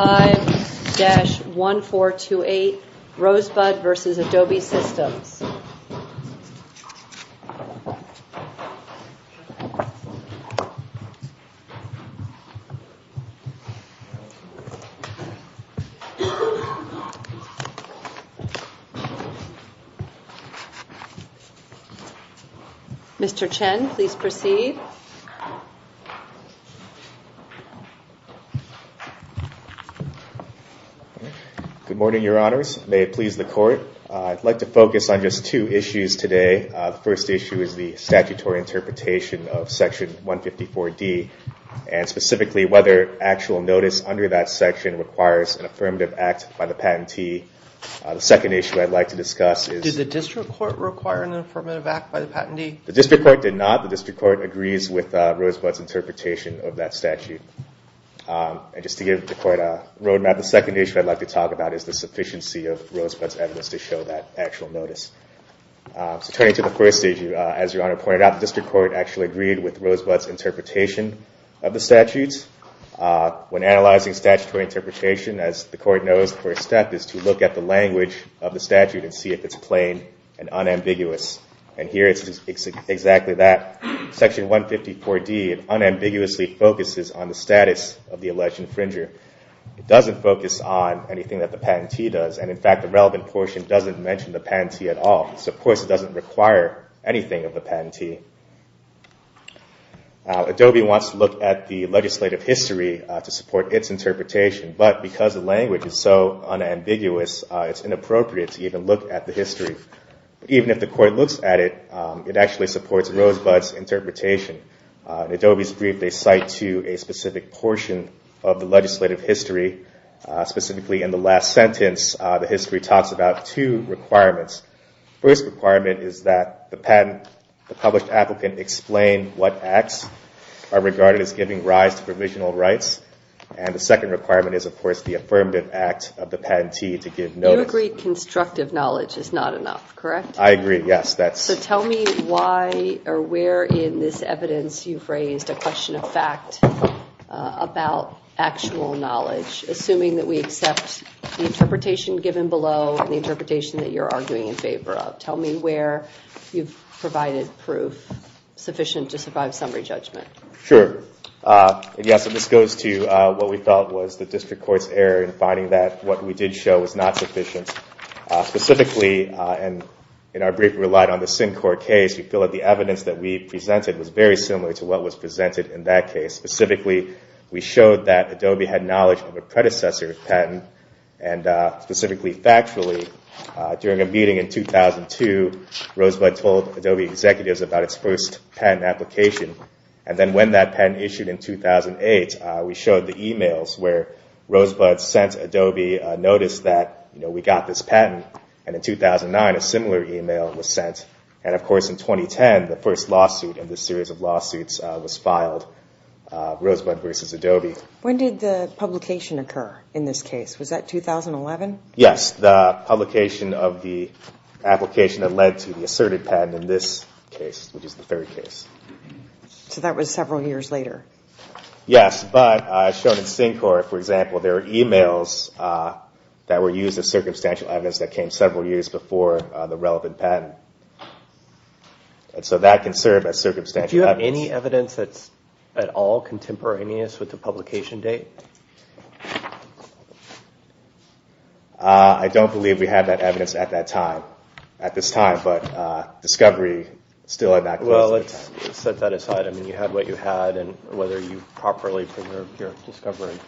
5-1428 Rosebud v. Adobe Systems Mr. Chen, please proceed Good morning, Your Honors. May it please the Court. I'd like to focus on just two issues today. The first issue is the statutory interpretation of Section 154D and specifically whether actual notice under that section requires an affirmative act by the patentee. The second issue I'd like to discuss is... Did the District Court require an affirmative act by the patentee? The District Court did not. The District Court agrees with Rosebud's interpretation of that statute. And just to give the Court a roadmap, the second issue I'd like to talk about is the sufficiency of Rosebud's evidence to show that actual notice. So turning to the first issue, as Your Honor pointed out, the District Court actually agreed with Rosebud's interpretation of the statute. When analyzing statutory interpretation, as the Court knows, the first step is to look at the language of the statute and see if it's plain and unambiguous. And here it's exactly that. Section 154D unambiguously focuses on the status of the alleged infringer. It doesn't focus on anything that the patentee does, and in fact the relevant portion doesn't mention the patentee at all. So of course it doesn't require anything of the patentee. Adobe wants to look at the legislative history to support its interpretation, but because the language is so unambiguous, it's inappropriate to even look at the history. Even if the Court looks at it, it actually supports Rosebud's interpretation. In Adobe's brief, they cite to a specific portion of the legislative history. Specifically in the last sentence, the history talks about two requirements. The first requirement is that the patent, the published applicant, explain what acts are regarded as giving rise to provisional rights. And the second requirement is, of course, the affirmative act of the patentee to give notice. You agreed constructive knowledge is not enough, correct? I agree, yes. So tell me why or where in this evidence you've raised a question of fact about actual knowledge, assuming that we accept the interpretation given below and the interpretation that you're arguing in favor of. Tell me where you've provided proof sufficient to survive summary judgment. Sure. Yes, this goes to what we felt was the District Court's error in finding that what we did show was not sufficient. Specifically, in our brief, we relied on the Syncor case. We feel that the evidence that we presented was very similar to what was presented in that case. Specifically, we showed that Adobe had knowledge of a predecessor patent, and specifically factually, During a meeting in 2002, Rosebud told Adobe executives about its first patent application. And then when that patent issued in 2008, we showed the e-mails where Rosebud sent Adobe a notice that we got this patent. And in 2009, a similar e-mail was sent. And, of course, in 2010, the first lawsuit in this series of lawsuits was filed, Rosebud versus Adobe. When did the publication occur in this case? Was that 2011? Yes, the publication of the application that led to the asserted patent in this case, which is the third case. So that was several years later? Yes, but shown in Syncor, for example, there are e-mails that were used as circumstantial evidence that came several years before the relevant patent. And so that can serve as circumstantial evidence. Do you have any evidence that's at all contemporaneous with the publication date? I don't believe we have that evidence at this time, but discovery is still at that place. Well, let's set that aside. I mean, you had what you had, and whether you properly preserved your discovery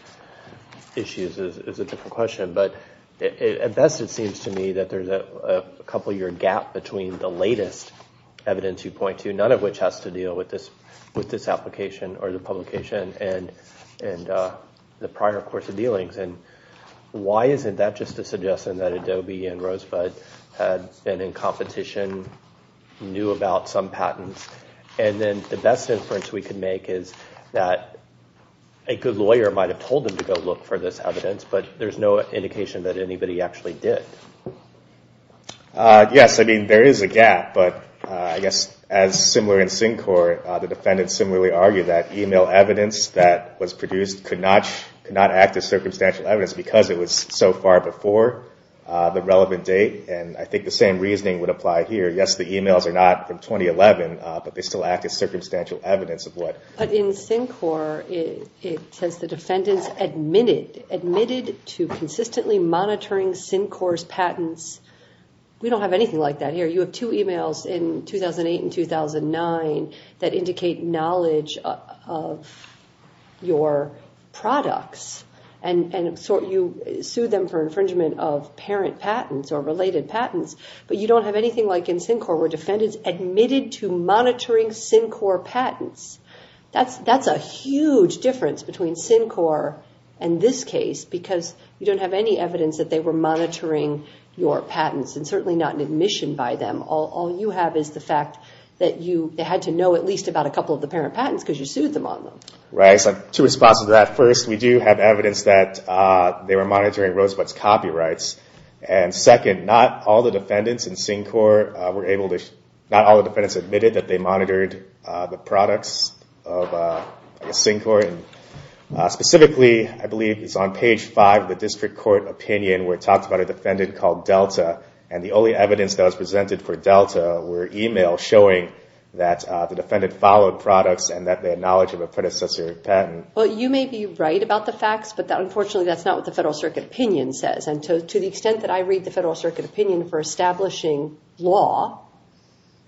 issues is a different question. But at best, it seems to me that there's a couple-year gap between the latest evidence you point to, none of which has to deal with this application or the publication and the prior course of dealings. And why isn't that just a suggestion that Adobe and Rosebud had been in competition, knew about some patents? And then the best inference we can make is that a good lawyer might have told them to go look for this evidence, but there's no indication that anybody actually did. Yes, I mean, there is a gap, but I guess as similar in Syncor, the defendants similarly argue that e-mail evidence that was produced could not act as circumstantial evidence because it was so far before the relevant date. And I think the same reasoning would apply here. Yes, the e-mails are not from 2011, but they still act as circumstantial evidence of what? But in Syncor, it says the defendants admitted to consistently monitoring Syncor's patents. We don't have anything like that here. You have two e-mails in 2008 and 2009 that indicate knowledge of your products. And so you sue them for infringement of parent patents or related patents, but you don't have anything like in Syncor where defendants admitted to monitoring Syncor patents. That's a huge difference between Syncor and this case because you don't have any evidence that they were monitoring your patents and certainly not an admission by them. All you have is the fact that you had to know at least about a couple of the parent patents because you sued them on them. Right, so two responses to that. First, we do have evidence that they were monitoring Rosebud's copyrights. And second, not all the defendants in Syncor were able to, not all the defendants admitted that they monitored the products of Syncor. Specifically, I believe it's on page five of the district court opinion where it talks about a defendant called Delta, and the only evidence that was presented for Delta were e-mails showing that the defendant followed products and that they had knowledge of a predecessor patent. Well, you may be right about the facts, but unfortunately that's not what the Federal Circuit opinion says. And to the extent that I read the Federal Circuit opinion for establishing law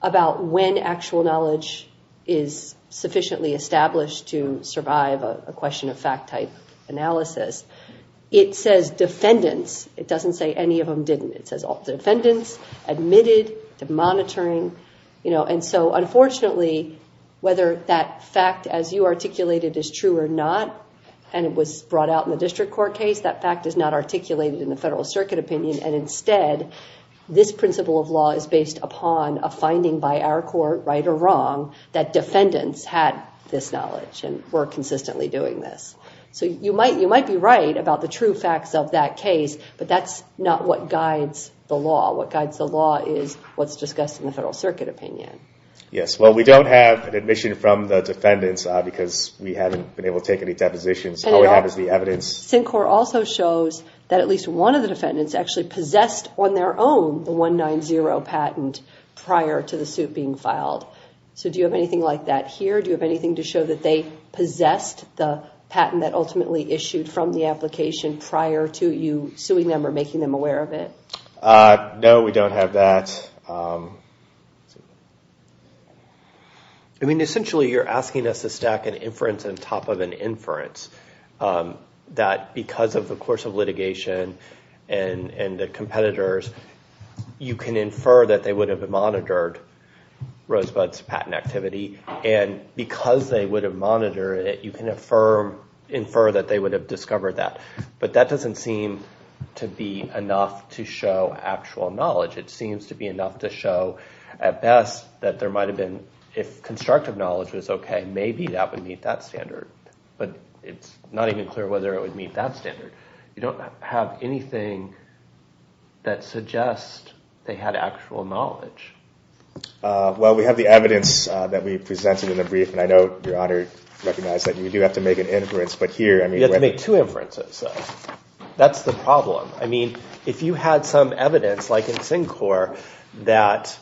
about when actual knowledge is sufficiently established to survive a question of fact type analysis, it says defendants. It doesn't say any of them didn't. It says all defendants admitted to monitoring. And so unfortunately, whether that fact as you articulated is true or not, and it was brought out in the district court case, that fact is not articulated in the Federal Circuit opinion. And instead, this principle of law is based upon a finding by our court, right or wrong, that defendants had this knowledge and were consistently doing this. So you might be right about the true facts of that case, but that's not what guides the law. What guides the law is what's discussed in the Federal Circuit opinion. Yes, well, we don't have an admission from the defendants because we haven't been able to take any depositions. All we have is the evidence. Syncor also shows that at least one of the defendants actually possessed on their own the 190 patent prior to the suit being filed. So do you have anything like that here? Do you have anything to show that they possessed the patent that ultimately issued from the application prior to you suing them or making them aware of it? No, we don't have that. I mean, essentially, you're asking us to stack an inference on top of an inference, that because of the course of litigation and the competitors, you can infer that they would have monitored Rosebud's patent activity, and because they would have monitored it, you can infer that they would have discovered that. But that doesn't seem to be enough to show actual knowledge. It seems to be enough to show, at best, that there might have been, if constructive knowledge was okay, maybe that would meet that standard. But it's not even clear whether it would meet that standard. You don't have anything that suggests they had actual knowledge. Well, we have the evidence that we presented in the brief, and I know Your Honor recognized that you do have to make an inference. You have to make two inferences. That's the problem. I mean, if you had some evidence, like in Syncor, that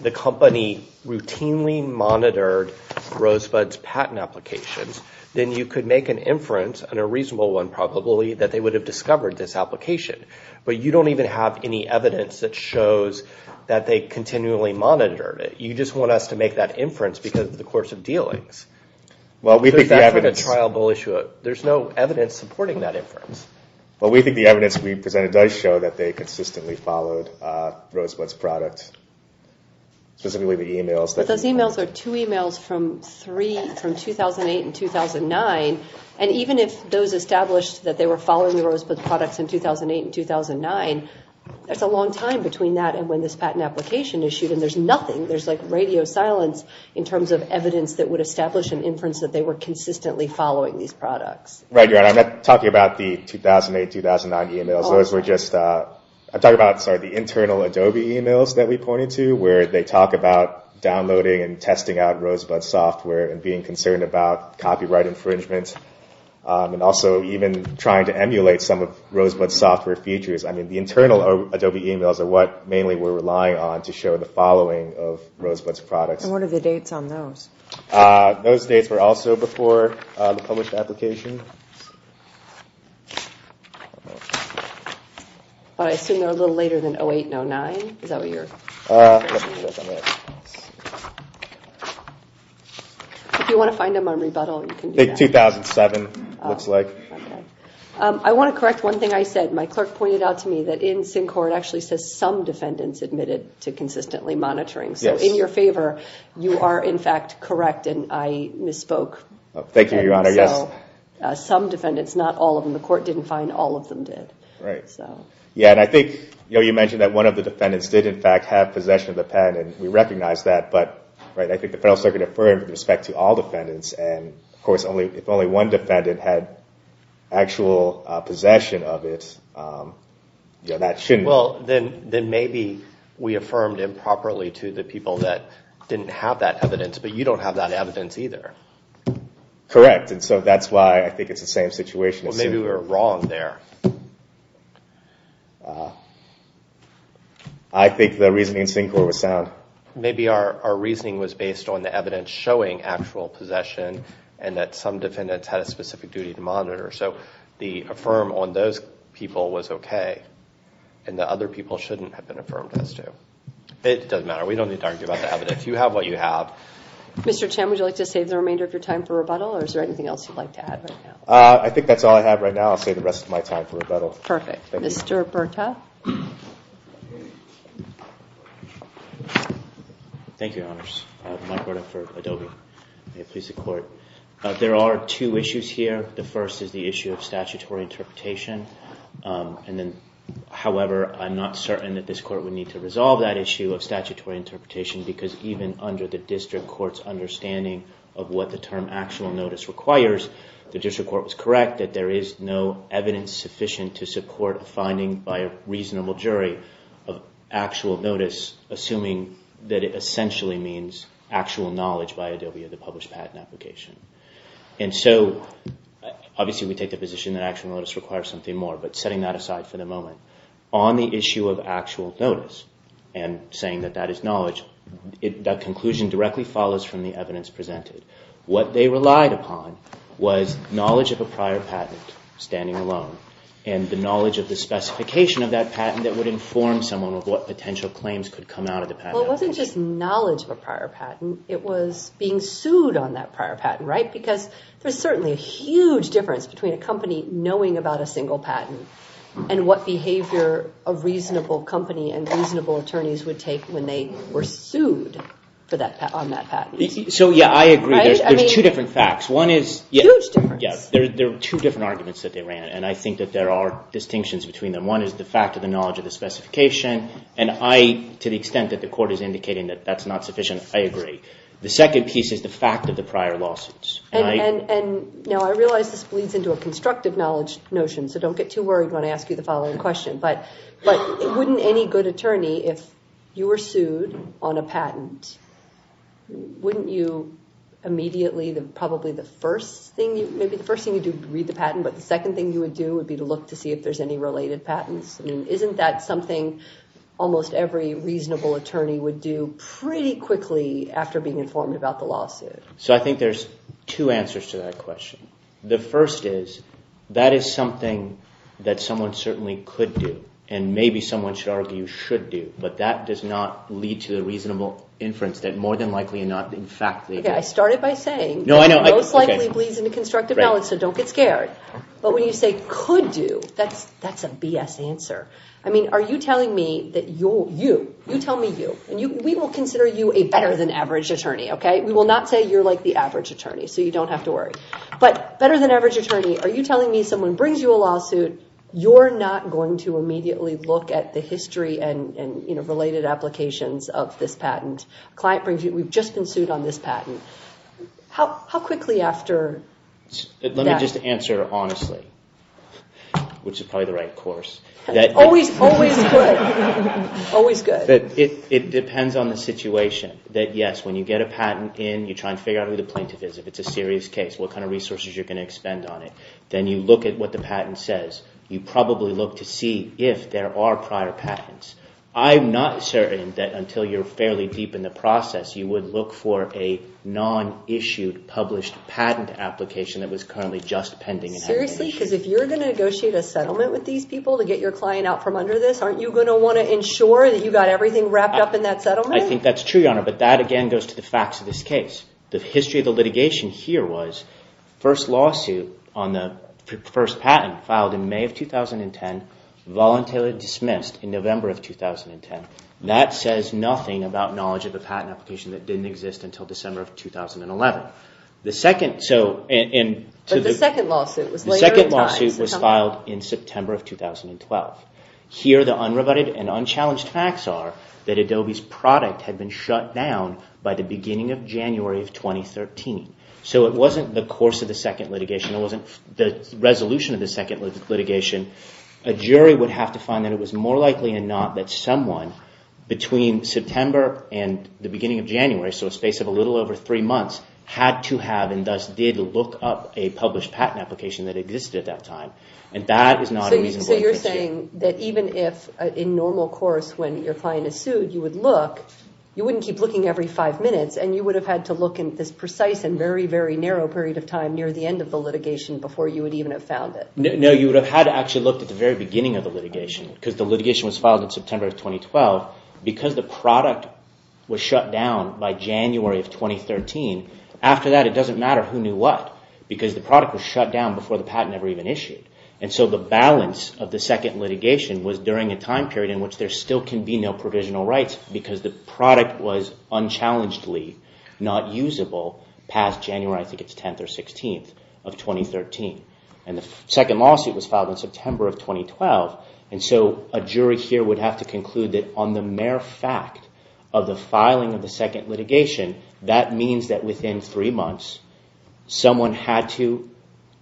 the company routinely monitored Rosebud's patent applications, then you could make an inference, and a reasonable one probably, that they would have discovered this application. But you don't even have any evidence that shows that they continually monitored it. You just want us to make that inference because of the course of dealings. There's no evidence supporting that inference. Well, we think the evidence we presented does show that they consistently followed Rosebud's product, specifically the emails. But those emails are two emails from 2008 and 2009, and even if those established that they were following Rosebud's products in 2008 and 2009, there's a long time between that and when this patent application issued, and there's nothing. There's like radio silence in terms of evidence that would establish an inference that they were consistently following these products. Right, Your Honor. I'm not talking about the 2008, 2009 emails. Those were just, I'm talking about the internal Adobe emails that we pointed to, where they talk about downloading and testing out Rosebud software and being concerned about copyright infringement, and also even trying to emulate some of Rosebud's software features. I mean, the internal Adobe emails are what mainly we're relying on to show the following of Rosebud's products. And what are the dates on those? Those dates were also before the published application. I assume they're a little later than 2008 and 2009. Is that what you're? If you want to find them on rebuttal, you can do that. 2007, it looks like. I want to correct one thing I said. My clerk pointed out to me that in SynCorp, it actually says some defendants admitted to consistently monitoring. So in your favor, you are, in fact, correct, and I misspoke. Thank you, Your Honor, yes. Some defendants, not all of them. The court didn't find all of them did. Right. Yeah, and I think, you know, you mentioned that one of the defendants did, in fact, have possession of the pen, and we recognize that, but, right, I think the Federal Circuit affirmed with respect to all defendants, and, of course, if only one defendant had actual possession of it, that shouldn't. Well, then maybe we affirmed improperly to the people that didn't have that evidence, but you don't have that evidence either. Correct, and so that's why I think it's the same situation. Well, maybe we were wrong there. I think the reasoning in SynCorp was sound. Maybe our reasoning was based on the evidence showing actual possession and that some defendants had a specific duty to monitor. So the affirm on those people was okay, and the other people shouldn't have been affirmed as to. It doesn't matter. We don't need to argue about the evidence. You have what you have. Mr. Chen, would you like to save the remainder of your time for rebuttal, or is there anything else you'd like to add right now? I think that's all I have right now. I'll save the rest of my time for rebuttal. Perfect. Thank you. Mr. Berta. Thank you, Your Honors. Mike Berta for Adobe. May it please the Court. There are two issues here. The first is the issue of statutory interpretation, and then, however, I'm not certain that this Court would need to resolve that issue of statutory interpretation because even under the district court's understanding of what the term actual notice requires, the district court was correct that there is no evidence sufficient to support a finding by a reasonable jury of actual notice assuming that it essentially means actual knowledge by Adobe of the published patent application. And so obviously we take the position that actual notice requires something more, but setting that aside for the moment, on the issue of actual notice and saying that that is knowledge, that conclusion directly follows from the evidence presented. What they relied upon was knowledge of a prior patent standing alone and the knowledge of the specification of that patent that would inform someone of what potential claims could come out of the patent application. Well, it wasn't just knowledge of a prior patent. It was being sued on that prior patent, right? Because there's certainly a huge difference between a company knowing about a single patent and what behavior a reasonable company and reasonable attorneys would take when they were sued on that patent. So, yeah, I agree. There's two different facts. Huge difference. There are two different arguments that they ran, and I think that there are distinctions between them. One is the fact of the knowledge of the specification, and to the extent that the court is indicating that that's not sufficient, I agree. The second piece is the fact of the prior lawsuits. Now, I realize this bleeds into a constructive notion, so don't get too worried when I ask you the following question, but wouldn't any good attorney, if you were sued on a patent, wouldn't you immediately, probably the first thing, maybe the first thing you'd do is read the patent, but the second thing you would do would be to look to see if there's any related patents? I mean, isn't that something almost every reasonable attorney would do pretty quickly after being informed about the lawsuit? So I think there's two answers to that question. The first is that is something that someone certainly could do, and maybe someone should argue should do, but that does not lead to a reasonable inference that more than likely not, in fact. Okay, I started by saying that most likely bleeds into constructive knowledge, so don't get scared. But when you say could do, that's a BS answer. I mean, are you telling me that you'll, you, you tell me you, and we will consider you a better than average attorney, okay? We will not say you're like the average attorney, so you don't have to worry. But you're not going to immediately look at the history and, you know, related applications of this patent. Client brings you, we've just been sued on this patent. How quickly after that? Let me just answer honestly, which is probably the right course. Always, always good. Always good. It depends on the situation that, yes, when you get a patent in, you try and figure out who the plaintiff is. If it's a serious case, what kind of resources you're going to expend on it. Then you look at what the patent says. You probably look to see if there are prior patents. I'm not certain that until you're fairly deep in the process, you would look for a non-issued published patent application that was currently just pending. Seriously? Because if you're going to negotiate a settlement with these people to get your client out from under this, aren't you going to want to ensure that you got everything wrapped up in that settlement? I think that's true, Your Honor, but that, again, goes to the facts of this case. The history of the litigation here was the first patent filed in May of 2010 voluntarily dismissed in November of 2010. That says nothing about knowledge of a patent application that didn't exist until December of 2011. But the second lawsuit was later in time. The second lawsuit was filed in September of 2012. Here the unrebutted and unchallenged facts are that Adobe's product had been shut down by the beginning of January of 2013. So it wasn't the course of the second litigation. It wasn't the resolution of the second litigation. A jury would have to find that it was more likely than not that someone between September and the beginning of January, so a space of a little over three months, had to have and thus did look up a published patent application that existed at that time. And that is not a reasonable inference here. So you're saying that even if in normal course when your client is sued, you would look, you wouldn't keep looking every five minutes, and you would have had to look in this precise and very, very narrow period of time near the end of the litigation before you would even have found it. No, you would have had to actually look at the very beginning of the litigation because the litigation was filed in September of 2012. Because the product was shut down by January of 2013, after that it doesn't matter who knew what because the product was shut down before the patent ever even issued. And so the balance of the second litigation was during a time period in which there still can be no provisional rights because the product was unchallengedly not usable past January, I think it's 10th or 16th of 2013. And the second lawsuit was filed in September of 2012. And so a jury here would have to conclude that on the mere fact of the filing of the second litigation, that means that within three months someone had to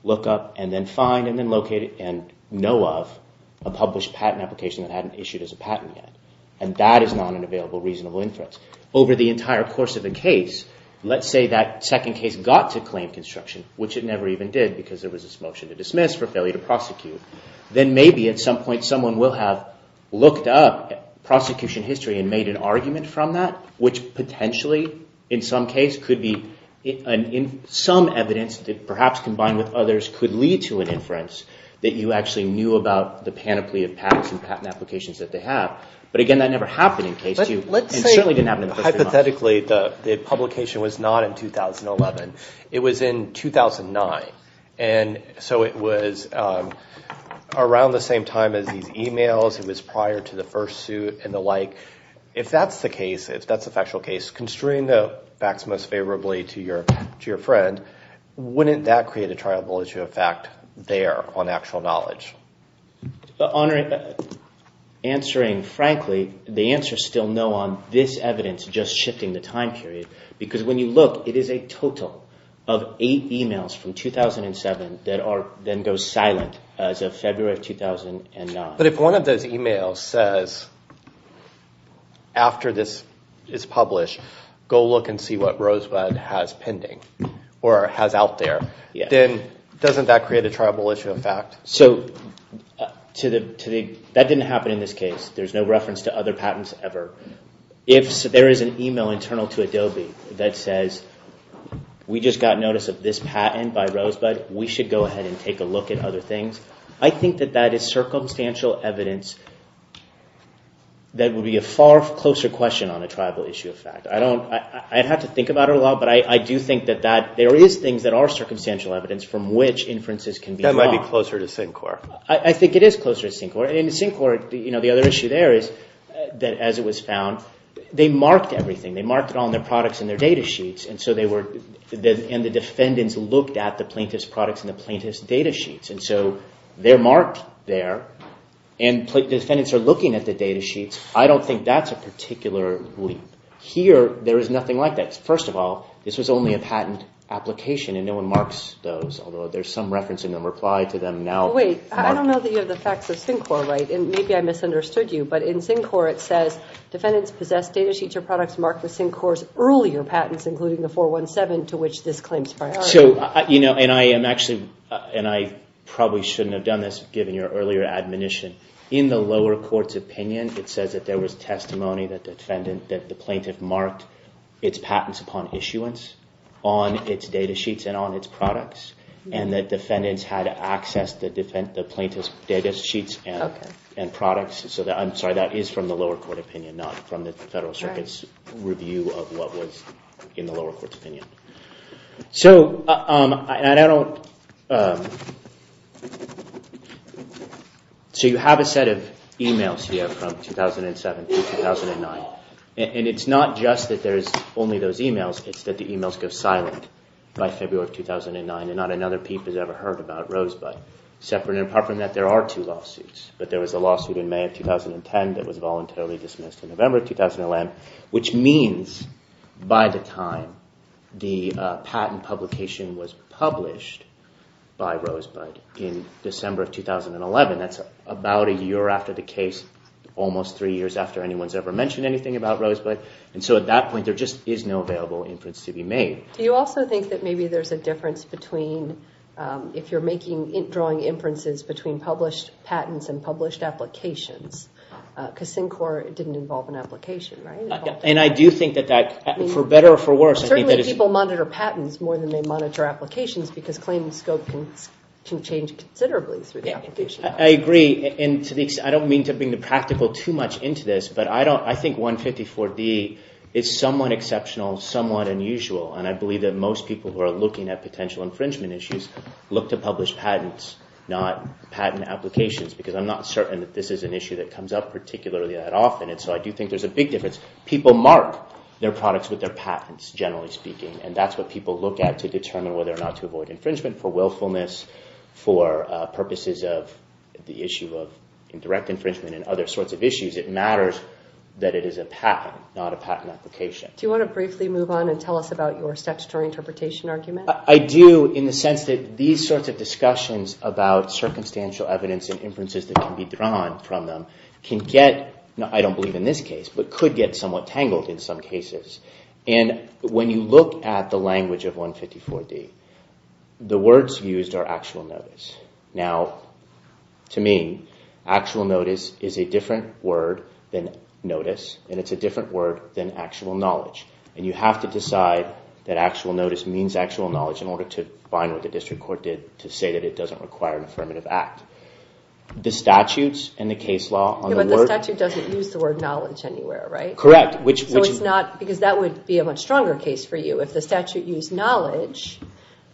look up and then find and then locate and know of a published patent application that hadn't issued as a patent yet. And that is not an available reasonable inference. Over the entire course of the case, let's say that second case got to claim construction, which it never even did because there was this motion to dismiss for failure to prosecute, then maybe at some point someone will have looked up prosecution history and made an argument from that, which potentially in some case could be some evidence that perhaps combined with others could lead to an inference that you actually knew about the panoply of patents and patent applications that they have. But again, that never happened in case two. It certainly didn't happen in the first three months. Hypothetically, the publication was not in 2011. It was in 2009. And so it was around the same time as these emails. It was prior to the first suit and the like. If that's the case, if that's the factual case, constrain the facts most favorably to your friend, wouldn't that create a triable issue of fact there on actual knowledge? Answering frankly, the answer is still no on this evidence just shifting the time period. Because when you look, it is a total of eight emails from 2007 that then goes silent as of February of 2009. But if one of those emails says after this is published, go look and see what Rosebud has pending or has out there, then doesn't that create a triable issue of fact? So that didn't happen in this case. There's no reference to other patents ever. If there is an email internal to Adobe that says, we just got notice of this patent by Rosebud. We should go ahead and take a look at other things. I think that that is circumstantial evidence that would be a far closer question on a triable issue of fact. I'd have to think about it a lot. But I do think that there is things that are circumstantial evidence from which inferences can be drawn. That might be closer to Syncor. I think it is closer to Syncor. In Syncor, the other issue there is that as it was found, they marked everything. They marked it on their products and their data sheets. And the defendants looked at the plaintiff's products and the plaintiff's data sheets. And so they're marked there. And defendants are looking at the data sheets. I don't think that's a particular leap. Here, there is nothing like that. First of all, this was only a patent application, and no one marks those, although there's some reference in the reply to them now. Wait, I don't know that you have the facts of Syncor, right? And maybe I misunderstood you. But in Syncor, it says, defendants possessed data sheets or products marked with Syncor's earlier patents, including the 417, to which this claim is prior. And I probably shouldn't have done this, given your earlier admonition. In the lower court's opinion, it says that there was testimony that the plaintiff marked its patents upon issuance on its data sheets and on its products, and that defendants had access to the plaintiff's data sheets and products. I'm sorry, that is from the lower court opinion, not from the Federal Circuit's review of what was in the lower court's opinion. So you have a set of emails here from 2007 to 2009. And it's not just that there's only those emails. It's that the emails go silent by February of 2009, and not another peep is ever heard about Rosebud. Apart from that, there are two lawsuits. But there was a lawsuit in May of 2010 that was voluntarily dismissed in November of 2011, which means by the time the patent publication was published by Rosebud in December of 2011, that's about a year after the case, almost three years after anyone's ever mentioned anything about Rosebud. And so at that point, there just is no available inference to be made. Do you also think that maybe there's a difference between if you're drawing inferences between published patents and published applications? Because Syncor didn't involve an application, right? And I do think that that, for better or for worse, I think that it's... Certainly people monitor patents more than they monitor applications because claims scope can change considerably through the application. I agree. And to the extent... I don't mean to bring the practical too much into this, but I think 154D is somewhat exceptional, somewhat unusual. And I believe that most people who are looking at potential infringement issues look to published patents, not patent applications, because I'm not certain that this is an issue that comes up particularly that often. And so I do think there's a big difference. People mark their products with their patents, generally speaking. And that's what people look at to determine whether or not to avoid infringement for willfulness, for purposes of the issue of indirect infringement and other sorts of issues. It matters that it is a patent, not a patent application. Do you want to briefly move on and tell us about your statutory interpretation argument? I do, in the sense that these sorts of discussions about circumstantial evidence and inferences that can be drawn from them can get... I don't believe in this case, but could get somewhat tangled in some cases. And when you look at the language of 154D, the words used are actual notice. Now, to me, actual notice is a different word than notice, and it's a different word than actual knowledge. And you have to decide that actual notice means actual knowledge in order to bind what the district court did to say that it doesn't require an affirmative act. The statutes and the case law on the word... Yeah, but the statute doesn't use the word knowledge anywhere, right? Correct. So it's not... Because that would be a much stronger case for you. If the statute used knowledge,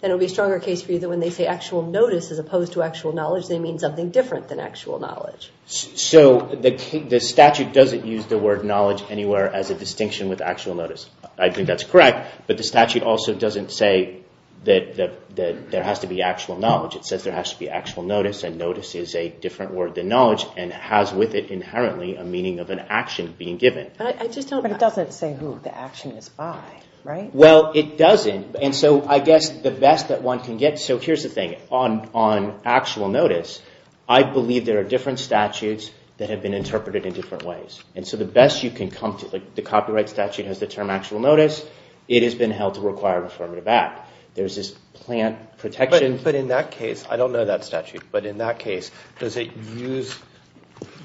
then it would be a stronger case for you that when they say actual notice as opposed to actual knowledge, they mean something different than actual knowledge. So the statute doesn't use the word knowledge anywhere as a distinction with actual notice. I think that's correct, but the statute also doesn't say that there has to be actual knowledge. It says there has to be actual notice, and notice is a different word than knowledge and has with it inherently a meaning of an action being given. I just don't... But it doesn't say who the action is by, right? Well, it doesn't. And so I guess the best that one can get... So here's the thing. On actual notice, I believe there are different statutes that have been interpreted in different ways. And so the best you can come to... The copyright statute has the term actual notice. It has been held to require affirmative act. There's this plant protection... But in that case, I don't know that statute, but in that case, does it use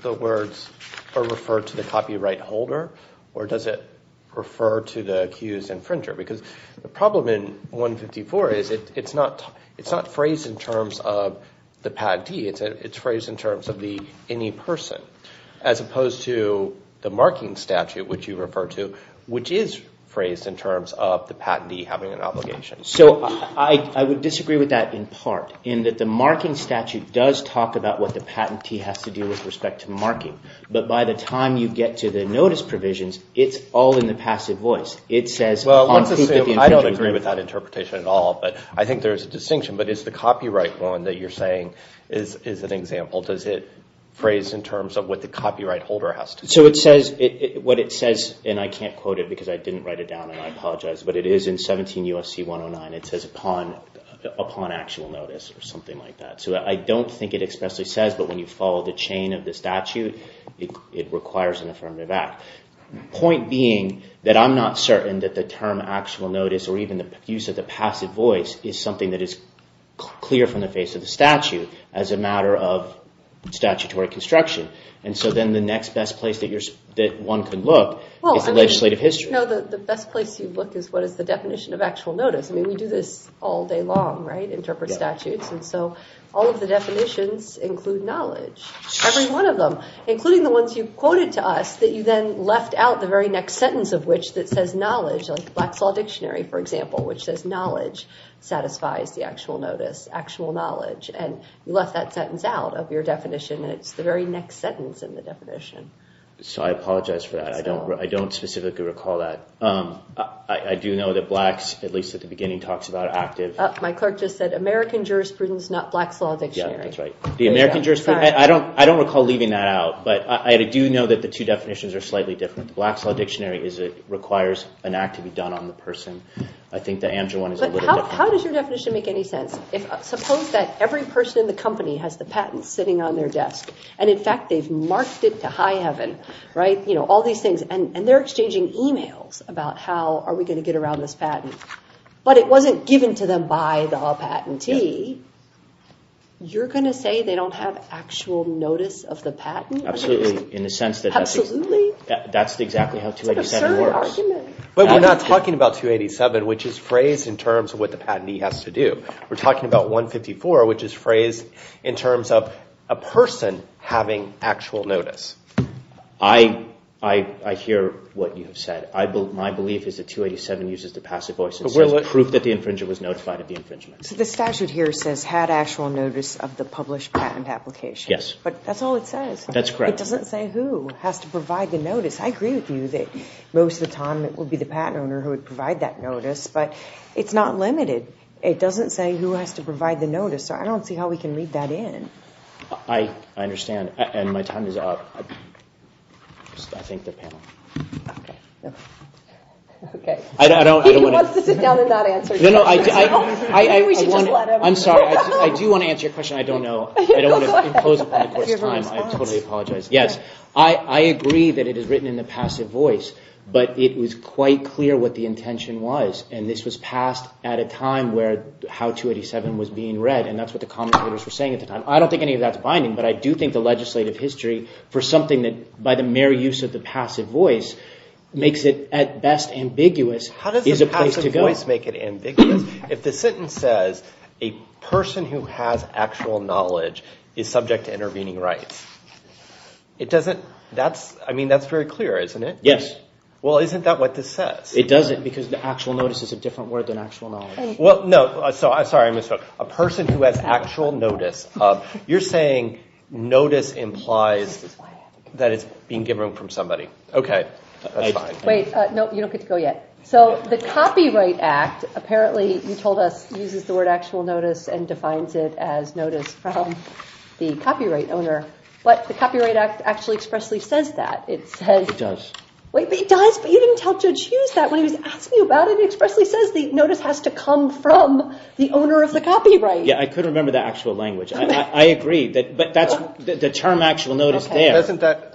the words or refer to the copyright holder or does it refer to the accused infringer? Because the problem in 154 is it's not phrased in terms of the patentee. It's phrased in terms of the any person as opposed to the marking statute, which you refer to, which is phrased in terms of the patentee having an obligation. So I would disagree with that in part in that the marking statute does talk about what the patentee has to do with respect to marking. But by the time you get to the notice provisions, it's all in the passive voice. It says... I don't agree with that interpretation at all, but I think there's a distinction. But is the copyright one that you're saying is an example? Does it phrase in terms of what the copyright holder has to do? So it says... What it says, and I can't quote it because I didn't write it down and I apologize, but it is in 17 U.S.C. 109. It says upon actual notice or something like that. So I don't think it expressly says, but when you follow the chain of the statute, it requires an affirmative act. Point being that I'm not certain that the term actual notice or even the use of the passive voice is something that is clear from the face of the statute as a matter of statutory construction. And so then the next best place that one could look is the legislative history. No, the best place you look is what is the definition of actual notice. I mean, we do this all day long, right? Interpret statutes. And so all of the definitions include knowledge. Every one of them, including the ones you quoted to us that you then left out the very next sentence of which that says knowledge, like the Black's Law Dictionary, for example, which says knowledge satisfies the actual notice, actual knowledge. And you left that sentence out of your definition, and it's the very next sentence in the definition. So I apologize for that. I don't specifically recall that. I do know that Blacks, at least at the beginning, talks about active. My clerk just said American jurisprudence, not Black's Law Dictionary. Yeah, that's right. The American jurisprudence? I don't recall leaving that out, but I do know that the two definitions are slightly different. The Black's Law Dictionary requires an act to be done on the person. I think the ANJA one is a little different. But how does your definition make any sense? Suppose that every person in the company has the patent sitting on their desk, and in fact they've marked it to high heaven, right? You know, all these things. And they're exchanging emails about how are we going to get around this patent. But it wasn't given to them by the patentee. You're going to say they don't have actual notice of the patent? Absolutely. Absolutely? That's exactly how 287 works. But we're not talking about 287, which is phrased in terms of what the patentee has to do. We're talking about 154, which is phrased in terms of a person having actual notice. I hear what you have said. My belief is that 287 uses the passive voice and says proof that the infringer was notified of the infringement. So the statute here says had actual notice of the published patent application. Yes. But that's all it says. That's correct. It doesn't say who has to provide the notice. I agree with you that most of the time it would be the patent owner who would provide that notice. But it's not limited. It doesn't say who has to provide the notice. So I don't see how we can read that in. I understand. And my time is up. I thank the panel. He wants to sit down and not answer questions. I'm sorry. I do want to answer your question. I don't know. I don't want to impose upon the court's time. I totally apologize. Yes. I agree that it is written in the passive voice. But it was quite clear what the intention was. And this was passed at a time where how 287 was being read. And that's what the commentators were saying at the time. I don't think any of that's binding. But I do think the legislative history for something that, by the mere use of the passive voice, makes it at best ambiguous is a place to go. If the sentence says, a person who has actual knowledge is subject to intervening rights, that's very clear, isn't it? Yes. Well, isn't that what this says? It doesn't because the actual notice is a different word than actual knowledge. Well, no. Sorry, I misspoke. A person who has actual notice. You're saying notice implies that it's being given from somebody. Okay. That's fine. Wait. No, you don't get to go yet. So the Copyright Act apparently, you told us, uses the word actual notice and defines it as notice from the copyright owner. But the Copyright Act actually expressly says that. It says. It does. Wait, it does? But you didn't tell Judge Hughes that when he was asking you about it. It expressly says the notice has to come from the owner of the copyright. Yeah, I couldn't remember the actual language. I agree. But that's the term actual notice there.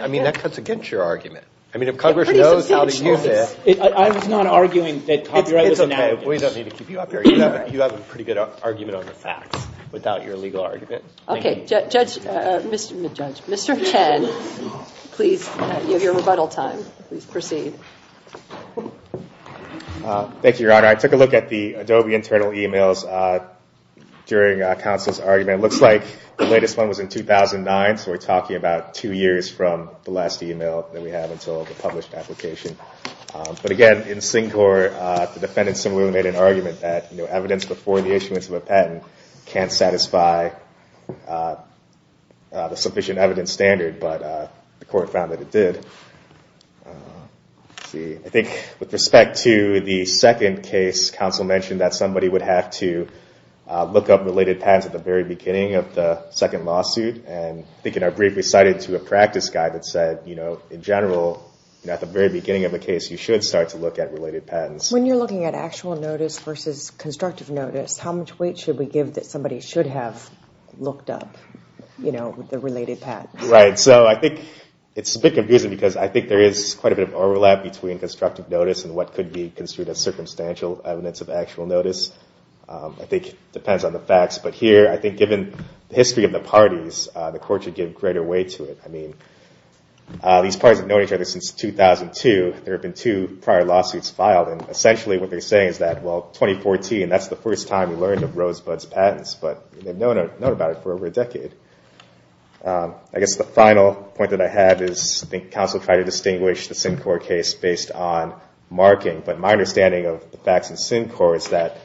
I mean, that cuts against your argument. I mean, if Congress knows how to use it. I was not arguing that copyright was an arrogance. It's okay. We don't need to keep you up here. You have a pretty good argument on the facts without your legal argument. Okay. Judge, Mr. Chen, please, you have your rebuttal time. Please proceed. Thank you, Your Honor. I took a look at the Adobe internal e-mails during counsel's argument. It looks like the latest one was in 2009, so we're talking about two years from the last e-mail that we had until the published application. But again, in SINGCOR, the defendants similarly made an argument that evidence before the issuance of a patent can't satisfy the sufficient evidence standard, but the court found that it did. I think with respect to the second case, counsel mentioned that somebody would have to look up related patents at the very beginning of the second lawsuit. And I think in our brief we cited to a practice guide that said, in general, at the very beginning of the case you should start to look at related patents. When you're looking at actual notice versus constructive notice, how much weight should we give that somebody should have looked up the related patents? Right. So I think it's a bit confusing because I think there is quite a bit of overlap between constructive notice and what could be construed as circumstantial evidence of actual notice. I think it depends on the facts. But here, I think given the history of the parties, the court should give greater weight to it. I mean, these parties have known each other since 2002. There have been two prior lawsuits filed. And essentially what they're saying is that, well, 2014, that's the first time we learned of Rosebud's patents. But they've known about it for over a decade. I guess the final point that I have is I think counsel tried to distinguish the SINGCOR case based on marking. But my understanding of the facts in SINGCOR is that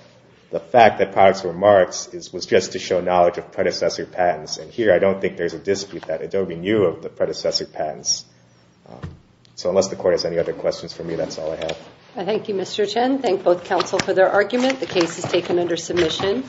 the fact that products were marked was just to show knowledge of predecessor patents. And here, I don't think there's a dispute that Adobe knew of the predecessor patents. So unless the court has any other questions for me, that's all I have. Thank you, Mr. Chen. Thank both counsel for their argument. The case is taken under submission.